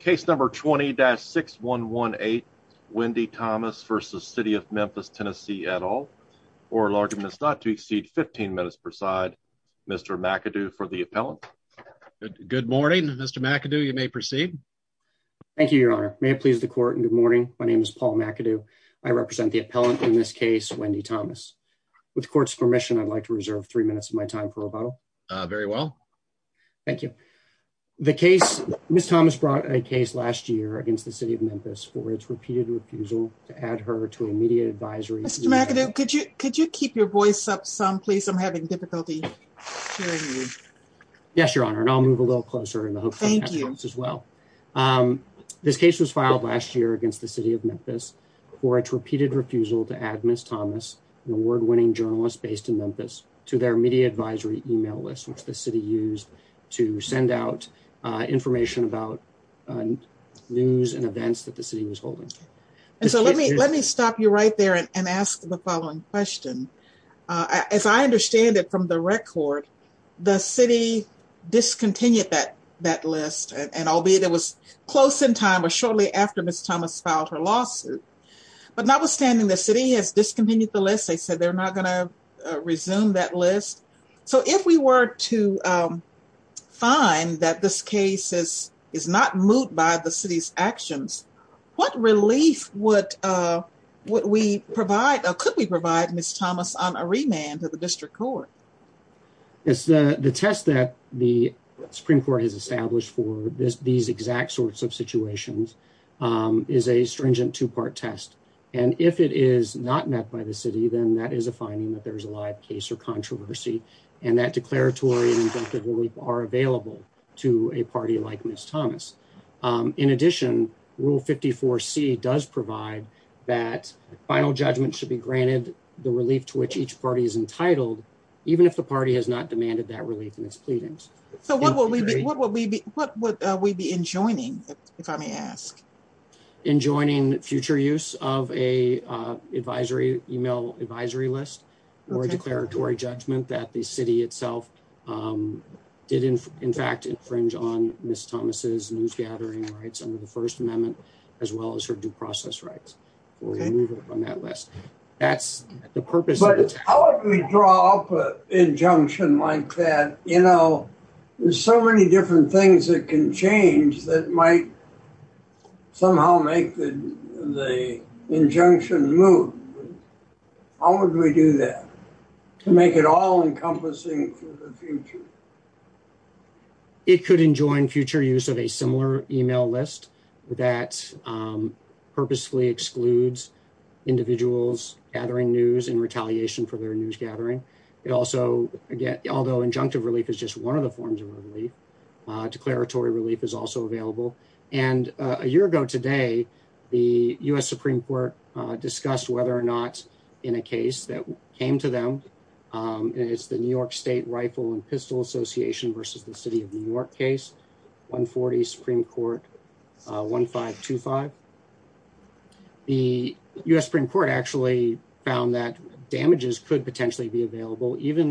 Case number 20-6118 Wendi Thomas v. City of Memphis, TN, et al. Oral argument is not to exceed 15 minutes per side. Mr. McAdoo for the appellant. Good morning, Mr. McAdoo. You may proceed. Thank you, your honor. May it please the court and good morning. My name is Paul McAdoo. I represent the appellant in this case, Wendi Thomas. With court's permission, I'd like to reserve three minutes of my time for rebuttal. Very well. Thank you. The case, Ms. Thomas brought a case last year against the City of Memphis for its repeated refusal to add her to a media advisory. Mr. McAdoo, could you could you keep your voice up some, please? I'm having difficulty hearing you. Yes, your honor, and I'll move a little closer in the hopes as well. This case was filed last year against the City of Memphis for its repeated refusal to add Ms. Thomas, an award-winning journalist based in Memphis, to their media advisory email list, which the city used to send out information about news and events that the city was holding. And so let me let me stop you right there and ask the following question. As I understand it from the record, the city discontinued that that list, and albeit it was close in time or shortly after Ms. Thomas filed her lawsuit. But notwithstanding, the city has discontinued the They said they're not going to resume that list. So if we were to find that this case is is not moot by the city's actions, what relief would we provide or could we provide Ms. Thomas on a remand to the district court? Yes, the test that the Supreme Court has established for this these exact sorts of situations is a stringent two-part test. And if it is not met by the city, then that is a finding that there's a live case or controversy, and that declaratory and injunctive relief are available to a party like Ms. Thomas. In addition, Rule 54C does provide that final judgment should be granted the relief to which each party is entitled, even if the party has not demanded that relief in its pleadings. So what would we be enjoining, if I may ask? Enjoining future use of a advisory email advisory list or a declaratory judgment that the city itself did, in fact, infringe on Ms. Thomas's news gathering rights under the First Amendment, as well as her due process rights for removal from that list. That's the purpose. But how would we draw up an injunction like that? You know, there's so many different things that can change that might somehow make the injunction move. How would we do that to make it all-encompassing for the future? It could enjoin future use of a similar email list that purposefully excludes individuals gathering news in retaliation for their news gathering. It also, again, although injunctive relief is just one of the forms of relief, declaratory relief is also available. And a year ago today, the U.S. Supreme Court discussed whether or not in a case that came to them, and it's the New York State Rifle and Pistol Association versus the City of New York case, 140 Supreme Court 1525. The U.S. Supreme Court actually found that even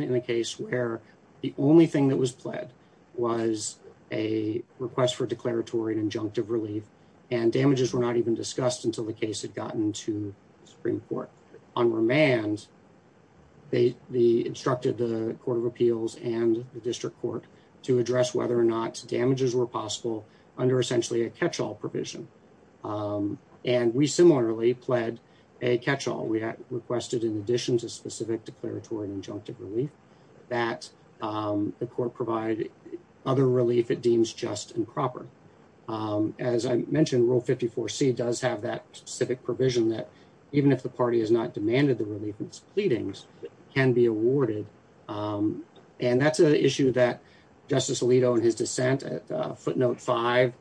in a case where the only thing that was pled was a request for declaratory and injunctive relief, and damages were not even discussed until the case had gotten to the Supreme Court. On remand, they instructed the Court of Appeals and the District Court to address whether or not damages were possible under essentially a catch-all provision. And we similarly pled a catch-all. We requested in addition to specific declaratory and injunctive relief that the Court provide other relief it deems just and proper. As I mentioned, Rule 54C does have that specific provision that even if the party has not demanded the relief in its pleadings, can be awarded. And that's an issue that Justice Alito in his dissent at footnote five,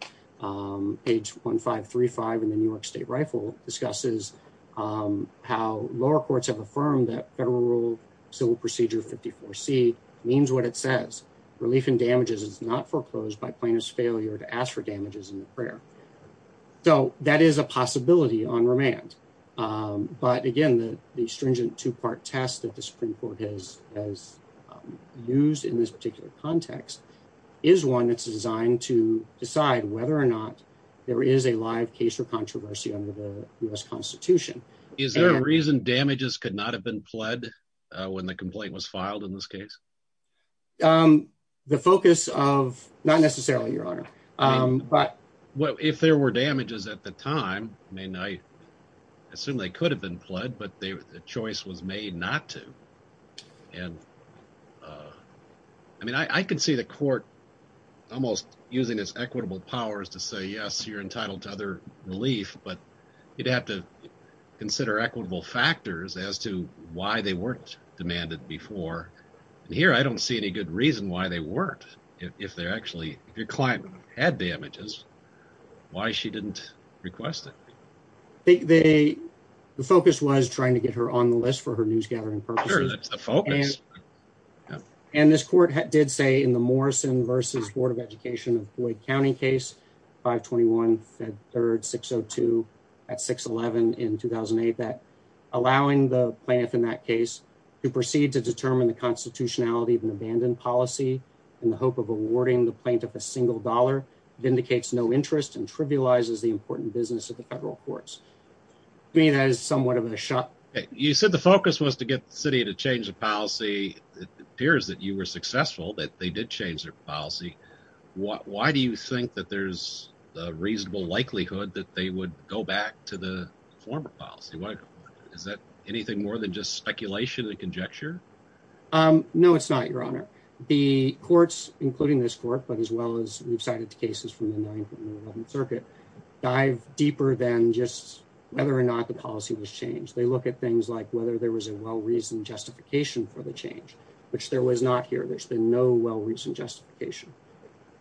page 1535 in the New York State Rifle, discusses how lower courts have affirmed that federal rule civil procedure 54C means what it says. Relief in damages is not foreclosed by plaintiff's failure to ask for damages in the prayer. So that is a possibility on remand. But again, the stringent two-part test that the Supreme Court has used in this particular context is one that's designed to there is a live case or controversy under the U.S. Constitution. Is there a reason damages could not have been pled when the complaint was filed in this case? The focus of, not necessarily, Your Honor. If there were damages at the time, I assume they could have been pled, but the choice was made not to. And I mean, I can see the court almost using its equitable powers to say, yes, you're entitled to other relief, but you'd have to consider equitable factors as to why they weren't demanded before. And here, I don't see any good reason why they weren't. If they're actually, if your client had damages, why she didn't request it. The focus was trying to get her on the purpose. And this court did say in the Morrison v. Board of Education of Boyd County case, 521 Fed Third 602 at 611 in 2008, that allowing the plaintiff in that case to proceed to determine the constitutionality of an abandoned policy in the hope of awarding the plaintiff a single dollar indicates no interest and trivializes the important business of the federal courts. I mean, that is somewhat of a shock. You said the focus was to get the city to change the policy. It appears that you were successful, that they did change their policy. Why do you think that there's a reasonable likelihood that they would go back to the former policy? Is that anything more than just speculation and conjecture? No, it's not, Your Honor. The courts, including this court, but as well as we've cited the cases from the 9th and 11th Circuit, dive deeper than just whether or not the policy was changed. They look at things like whether there was a well-reasoned justification for the change, which there was not here. There's been no well-reasoned justification,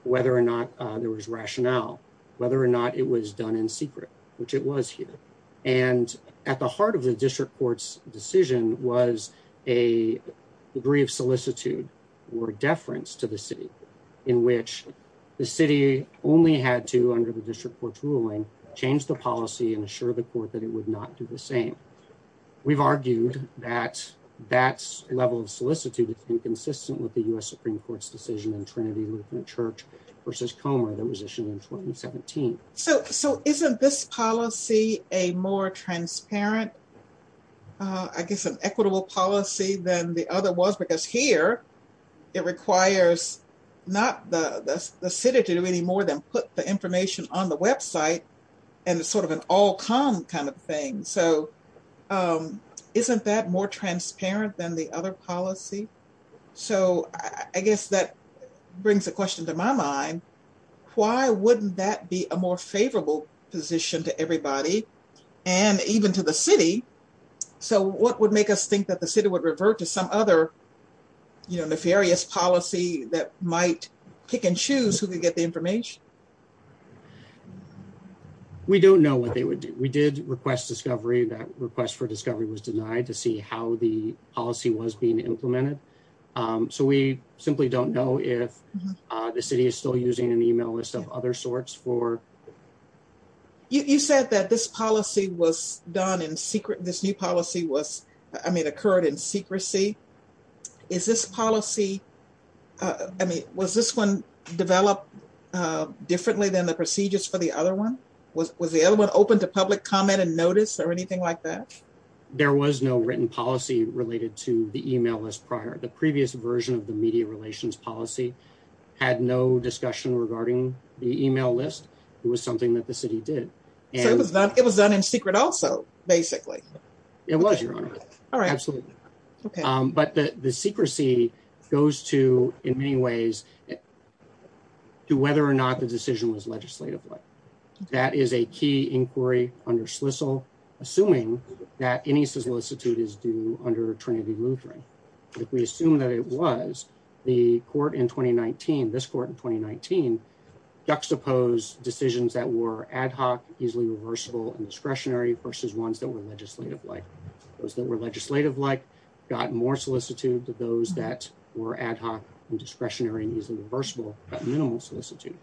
whether or not there was rationale, whether or not it was done in secret, which it was here. And at the heart of the district court's decision was a degree of solicitude or deference to the city only had to, under the district court's ruling, change the policy and assure the court that it would not do the same. We've argued that that level of solicitude is inconsistent with the U.S. Supreme Court's decision in Trinity Lutheran Church v. Comer that was issued in 2017. So isn't this policy a more transparent, I guess, an equitable policy than the other was? Because here it requires not the city to do any more than put the information on the website, and it's sort of an all-com kind of thing. So isn't that more transparent than the other policy? So I guess that brings a question to my mind. Why wouldn't that be a more favorable position to everybody and even to the city? So what would make us think that the city would revert to some other, you know, nefarious policy that might pick and choose who could get the information? We don't know what they would do. We did request discovery. That request for discovery was denied to see how the policy was being implemented. So we simply don't know if the city is still using an email list of other sorts for... You said that this policy was done in secret, this new policy was, I mean, occurred in secrecy. Is this policy, I mean, was this one developed differently than the procedures for the other one? Was the other one open to public comment and notice or anything like that? There was no written policy related to the email list prior. The previous version of the media relations policy had no discussion regarding the email list. It was something that the city did. So it was done in secret also, basically. It was, Your Honor. Absolutely. But the secrecy goes to, in many ways, to whether or not the decision was legislatively. That is a key inquiry under SLISL, assuming that any solicitude is due under Trinity Lutheran. If we assume that it was, the court in 2019, this court in 2019, juxtaposed decisions that were ad hoc, easily reversible, and discretionary versus ones that were legislative-like. Those that were legislative-like got more solicitude than those that were ad hoc and discretionary and easily reversible got minimal solicitude.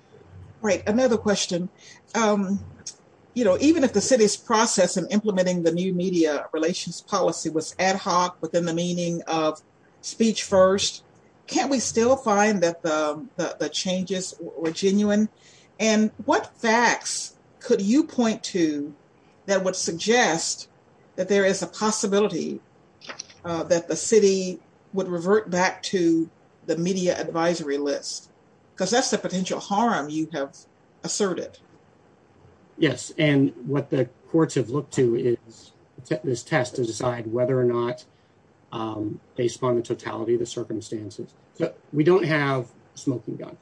Right. Another question. Even if the city's process in implementing the new media relations policy was ad hoc within the meaning of speech first, can't we still find that the changes were genuine? And what facts could you point to that would suggest that there is a possibility that the city would revert back to the media advisory list? Because that's the potential harm you have asserted. Yes. And what the courts have looked to is this test to decide whether or not, based upon the totality of the circumstances. We don't have a smoking gun.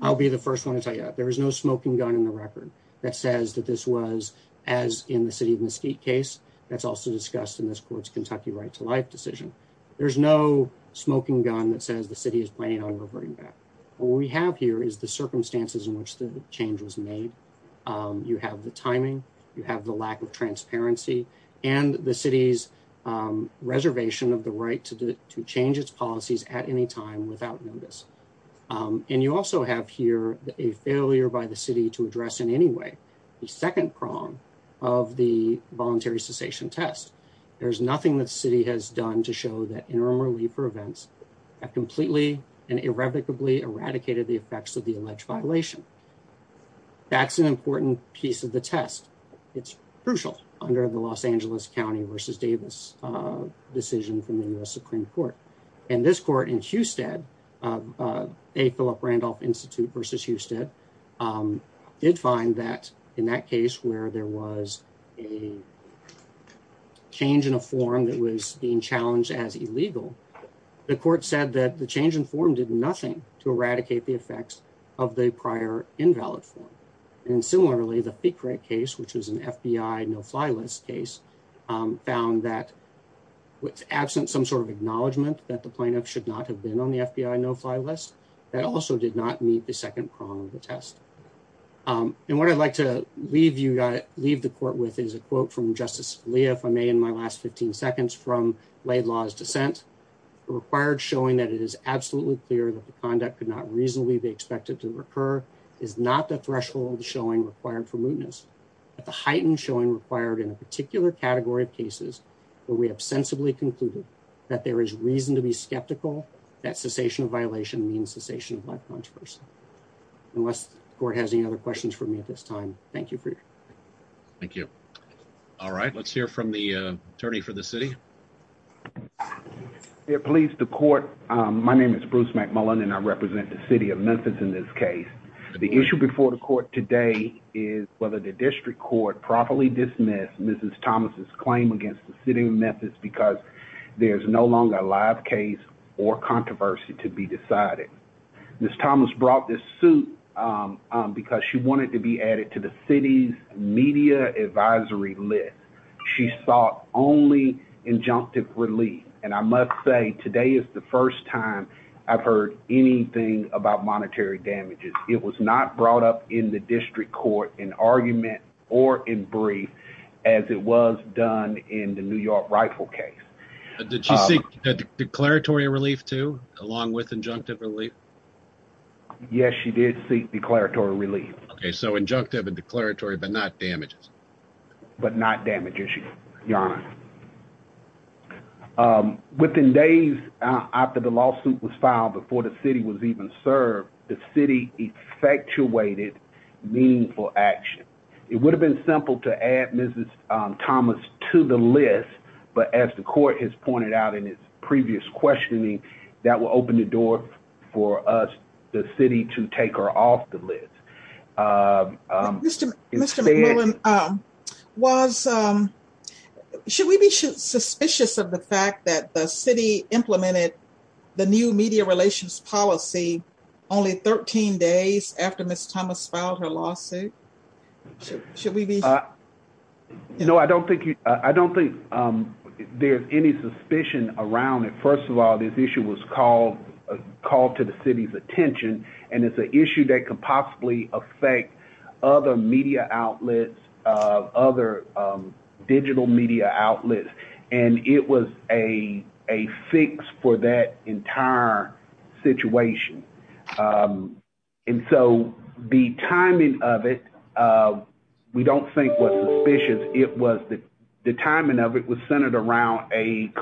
I'll be the first one to tell you that. There is no smoking gun in the record that says that this was, as in the city of Mesquite case, that's also discussed in this court's Kentucky right to life decision. There's no smoking gun that says the city is planning on reverting back. What we have here is the circumstances in which the change was made. You have the timing, you have the lack of transparency, and the city's reservation of right to change its policies at any time without notice. And you also have here a failure by the city to address in any way the second prong of the voluntary cessation test. There's nothing the city has done to show that interim relief for events have completely and irrevocably eradicated the effects of the alleged violation. That's an important piece of the test. It's crucial under the Los Angeles County v. Davis decision from the U.S. Supreme Court. And this court in Hewstead, A. Philip Randolph Institute v. Hewstead, did find that in that case where there was a change in a form that was being challenged as illegal, the court said that the change in form did nothing to eradicate the effects of the prior invalid form. And similarly, the FICRA case, which is an FBI no-fly list case, found that with absent some sort of acknowledgment that the plaintiff should not have been on the FBI no-fly list, that also did not meet the second prong of the test. And what I'd like to leave the court with is a quote from Justice Scalia, if I may, in my last 15 seconds from Laidlaw's dissent. The required showing that it is absolutely clear that the conduct could not reasonably be expected to recur is not the mootness, but the heightened showing required in a particular category of cases where we have sensibly concluded that there is reason to be skeptical that cessation of violation means cessation of life controversy. Unless the court has any other questions for me at this time, thank you for your time. Thank you. All right, let's hear from the attorney for the city. Police, the court, my name is Bruce McMullen and I represent the city of Memphis in this case. The issue before the court today is whether the district court properly dismissed Mrs. Thomas's claim against the city of Memphis because there's no longer a live case or controversy to be decided. Ms. Thomas brought this suit because she wanted to be added to the city's media advisory list. She sought only injunctive relief, and I must say today is the first time I've heard anything about monetary damages. It was not brought up in the district court in argument or in brief as it was done in the New York rifle case. Did she seek declaratory relief too along with injunctive relief? Yes, she did seek declaratory relief. Okay, so injunctive and declaratory but not damages. But not damage issues, your honor. Within days after the lawsuit was filed before the city was even served, the city effectuated meaningful action. It would have been simple to add Mrs. Thomas to the list, but as the court has pointed out in its previous questioning, that will open the door for us, the city, to take her off the list. Mr. McMullen, should we be suspicious of the fact that the city implemented the new media relations policy only 13 days after Ms. Thomas filed her lawsuit? Should we be? No, I don't think there's any suspicion around it. First of all, this issue was called to the city's attention, and it's an issue that could possibly affect other media outlets, other digital media outlets, and it was a fix for that entire situation. And so the timing of it, we don't think was suspicious. The timing of it was a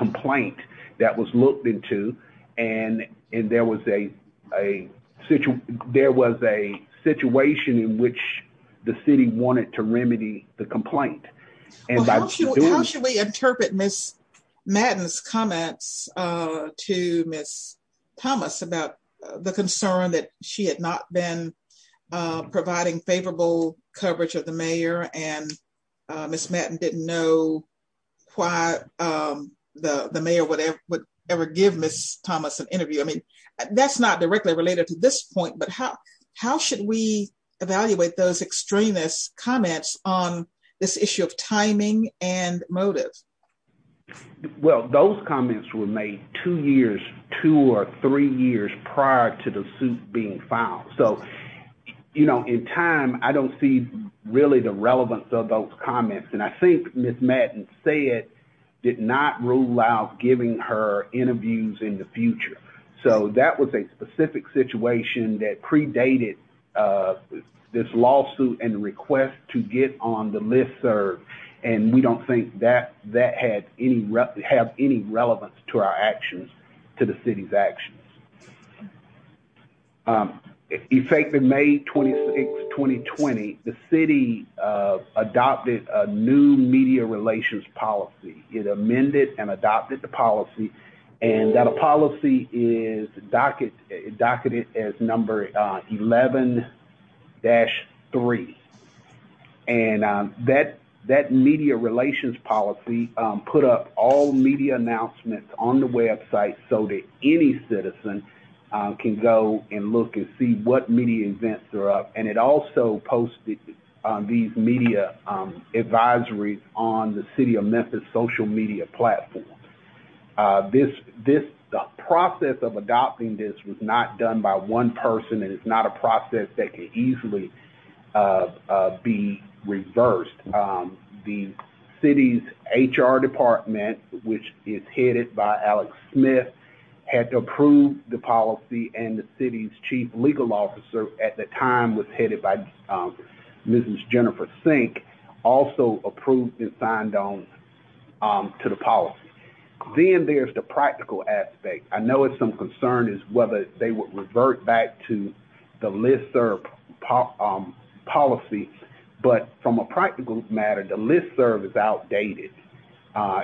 situation in which the city wanted to remedy the complaint. How should we interpret Ms. Madden's comments to Ms. Thomas about the concern that she had not been providing favorable coverage of the mayor, and Ms. Madden didn't know why the mayor would ever give Ms. Thomas an interview? I mean, that's not directly related to this point, but how should we evaluate those extremist comments on this issue of timing and motive? Well, those comments were made two years, two or three years prior to the suit being filed. So, you know, in time, I don't see really the relevance of those comments, and I think Ms. Madden said, did not rule out giving her interviews in the future. So that was a specific situation that predated this lawsuit and request to get on the listserv, and we don't think that had any relevance to our actions, to the city's actions. In fact, in May 26, 2020, the city adopted a new media relations policy. It amended and adopted the policy, and that policy is docketed as number 11-3, and that media relations policy put up all media announcements on the website so that any citizen can go and look and see what media events are up, and it also posted these media advisories on the city of Memphis social media platform. The process of adopting this was not done by one person, and it's not a process that can easily be reversed. The city's HR department, which is headed by Alex Smith, had to approve the policy, and the city's chief legal officer at the time was headed by Ms. Jennifer Sink, also approved and signed on to the policy. Then there's the practical aspect. I know it's some concern as to whether they would revert back to the listserv policy, but from a practical matter, the listserv is outdated.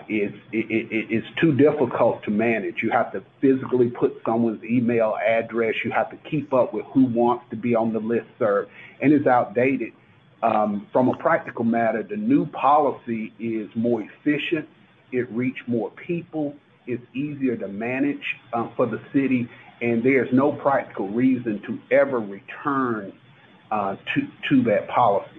It's too difficult to manage. You have to physically put someone's email address. You have to keep up with who wants to be on the listserv, and it's outdated. From a practical matter, the new policy is more efficient. It reaches more people. It's easier to manage for the city, and there's no practical reason to ever return to that policy.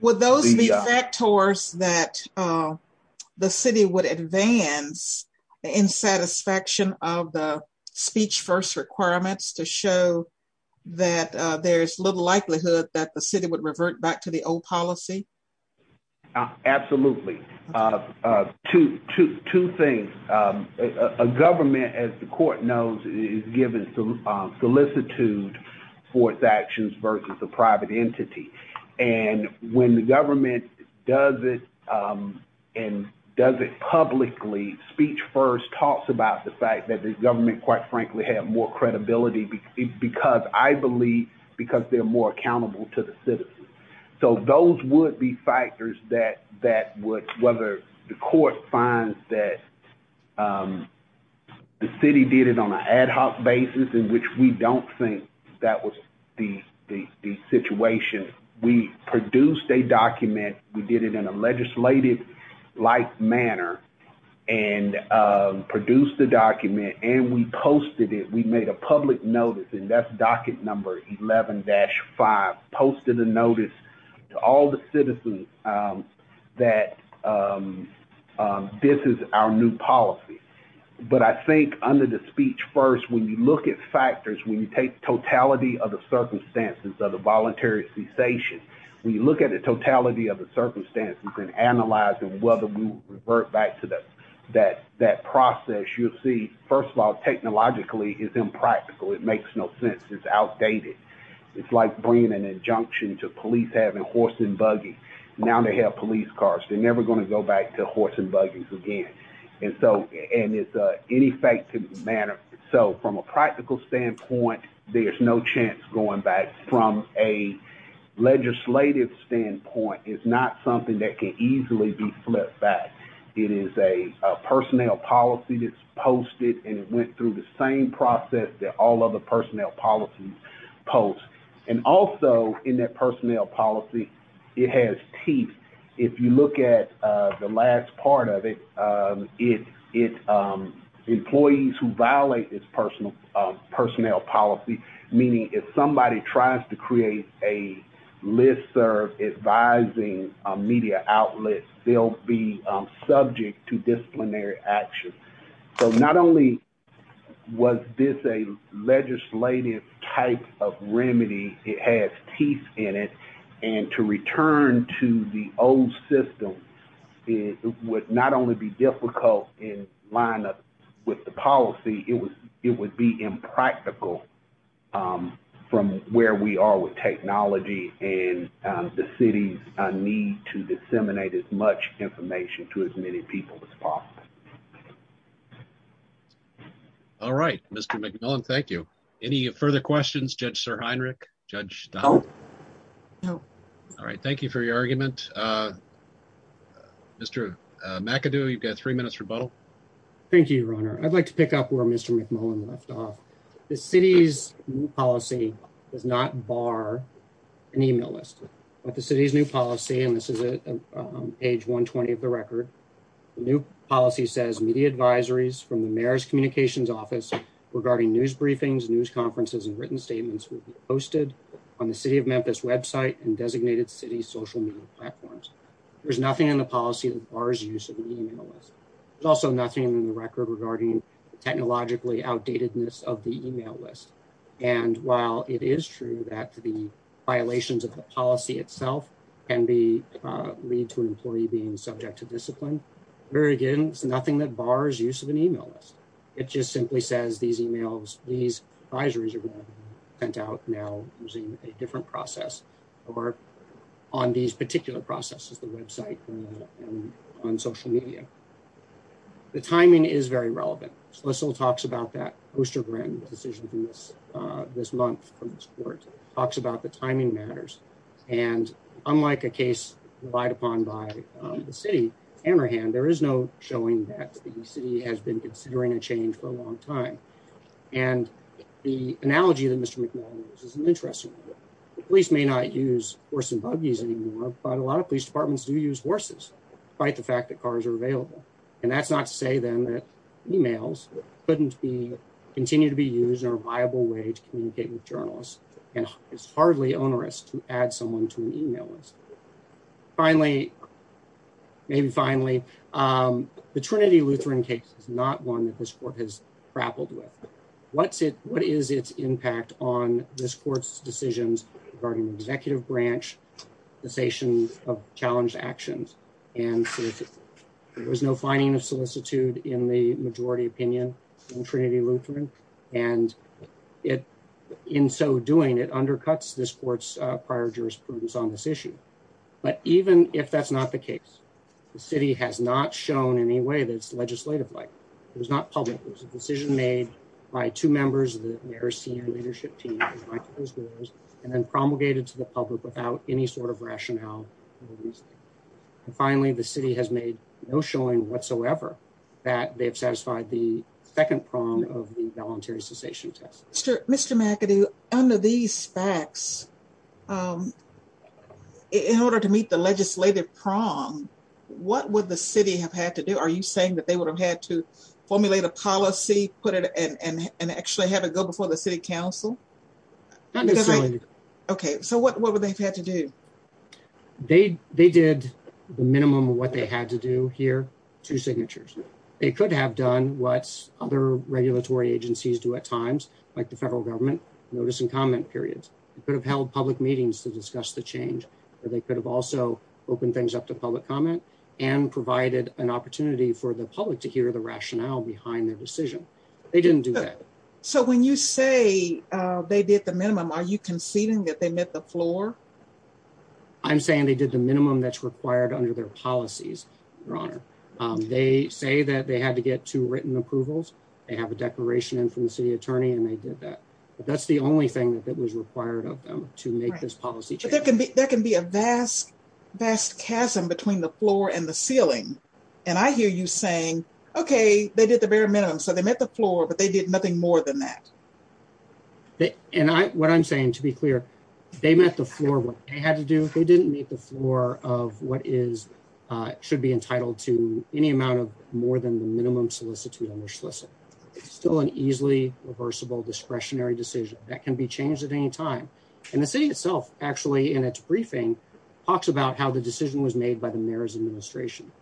Would those be factors that the city would advance the insatisfaction of the speech-first requirements to show that there's little likelihood that the city would revert back to the old policy? Absolutely. Two things. A government, as the court knows, is given solicitude for its actions versus a private entity. When the government does it and does it publicly, speech-first talks about the fact that the government, quite frankly, had more credibility because I believe they're more accountable to the citizens. Those would be factors that would, whether the court finds that or not. The city did it on an ad hoc basis in which we don't think that was the situation. We produced a document. We did it in a legislative-like manner and produced the document, and we posted it. We made a public notice, and that's docket number 11-5, posted a notice to all the citizens that this is our new policy. But I think under the speech-first, when you look at factors, when you take totality of the circumstances of the voluntary cessation, when you look at the totality of the circumstances and analyze whether we revert back to that process, you'll see, first of all, technologically, it's impractical. It makes no sense. It's outdated. It's like bringing an injunction to police having horse and buggy. Now they have police cars. They're never going to go back to horse and buggies again. And it's an ineffective manner. So from a practical standpoint, there's no chance going back. From a legislative standpoint, it's not something that can easily be flipped back. It is a personnel policy that's posted, and it went through the same process that all other personnel policies post. And also, in that personnel policy, it has teeth. If you look at the last part of it, it's employees who violate this personnel policy, meaning if somebody tries to create a listserv advising media outlet, they'll be subject to disciplinary action. So not only was this a legislative type of remedy, it has teeth in it. And to return to the old system, it would not only be difficult in line with the policy, it would be impractical from where we are with technology and the city's to disseminate as much information to as many people as possible. All right, Mr. McMillan. Thank you. Any further questions? Judge Sir Heinrich. Judge. All right. Thank you for your argument. Uh, Mr. McAdoo, you've got three minutes rebuttal. Thank you, Your Honor. I'd like to pick up where Mr McMillan left off. The city's policy does not include, and this is page 120 of the record, the new policy says media advisories from the mayor's communications office regarding news briefings, news conferences, and written statements will be posted on the city of Memphis website and designated city social media platforms. There's nothing in the policy that bars use of the email list. There's also nothing in the record regarding technologically outdatedness of the email list. And while it is true that the violations of the policy itself can be, uh, lead to an employee being subject to discipline, very again, it's nothing that bars use of an email list. It just simply says these emails, these advisories are going to be sent out now using a different process or on these particular processes, the website and on social media. The timing is very relevant. Schlissel talks about that decision from this, uh, this month from this court talks about the timing matters and unlike a case relied upon by the city, Hammerhand, there is no showing that the city has been considering a change for a long time. And the analogy that Mr. McMillan uses is an interesting one. The police may not use horse and buggies anymore, but a lot of police departments do use horses, despite the fact that cars are available. And that's not to say then that emails couldn't be, continue to be used in a viable way to communicate with journalists and it's hardly onerous to add someone to an email list. Finally, maybe finally, um, the Trinity Lutheran case is not one that this court has grappled with. What's it, what is its impact on this court's decisions regarding executive branch cessation of challenge actions? And there was no finding of solicitude in the majority opinion in Trinity Lutheran. And it in so doing it undercuts this court's prior jurisprudence on this issue. But even if that's not the case, the city has not shown any way that it's legislative. Like it was not public. It was a decision made by two members of the mayor's leadership team and then promulgated to the public without any sort of rationale. And finally, the city has made no showing whatsoever that they have satisfied the second prong of the voluntary cessation test. Mr. McAdoo, under these facts, in order to meet the legislative prong, what would the city have had to do? Are you saying that they would have had to formulate a policy, put it and actually have it go before the city council? Not necessarily. Okay, so what would they have had to do? They did the minimum of what they had to do here, two signatures. They could have done what other regulatory agencies do at times, like the federal government, notice and comment periods. They could have held public meetings to discuss the change, or they could have also opened things up to public comment and provided an opportunity for the public to hear the rationale behind their decision. They didn't do that. So when you say they did the minimum, are you conceding that they met the floor? I'm saying they did the minimum that's required under their policies, Your Honor. They say that they had to get two written approvals. They have a declaration in from the city attorney and they did that. But that's the only thing that was required of them to make this policy change. There can be a vast, vast chasm between the floor and the ceiling. And I hear you saying, okay, they did the bare minimum. So they met the floor, but they did nothing more than that. And what I'm saying, to be clear, they met the floor, what they had to do. They didn't meet the floor of what is, should be entitled to any amount of more than the minimum solicitude on their solicit. It's still an easily reversible, discretionary decision that can be changed at any time. And the city itself actually, in its briefing, talks about how the decision was made by the administration.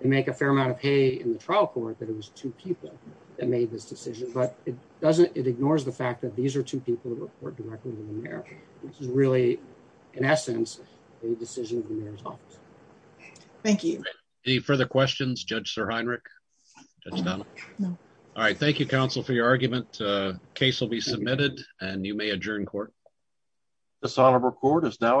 They make a fair amount of hay in the trial court that it was two people that made this decision, but it doesn't, it ignores the fact that these are two people that report directly to the mayor, which is really in essence, a decision of the mayor's office. Thank you. Any further questions, Judge Sir Heinrich, Judge Donna? No. All right. Thank you, counsel, for your argument. Case will be submitted and you may adjourn court. This honorable court is now adjourned.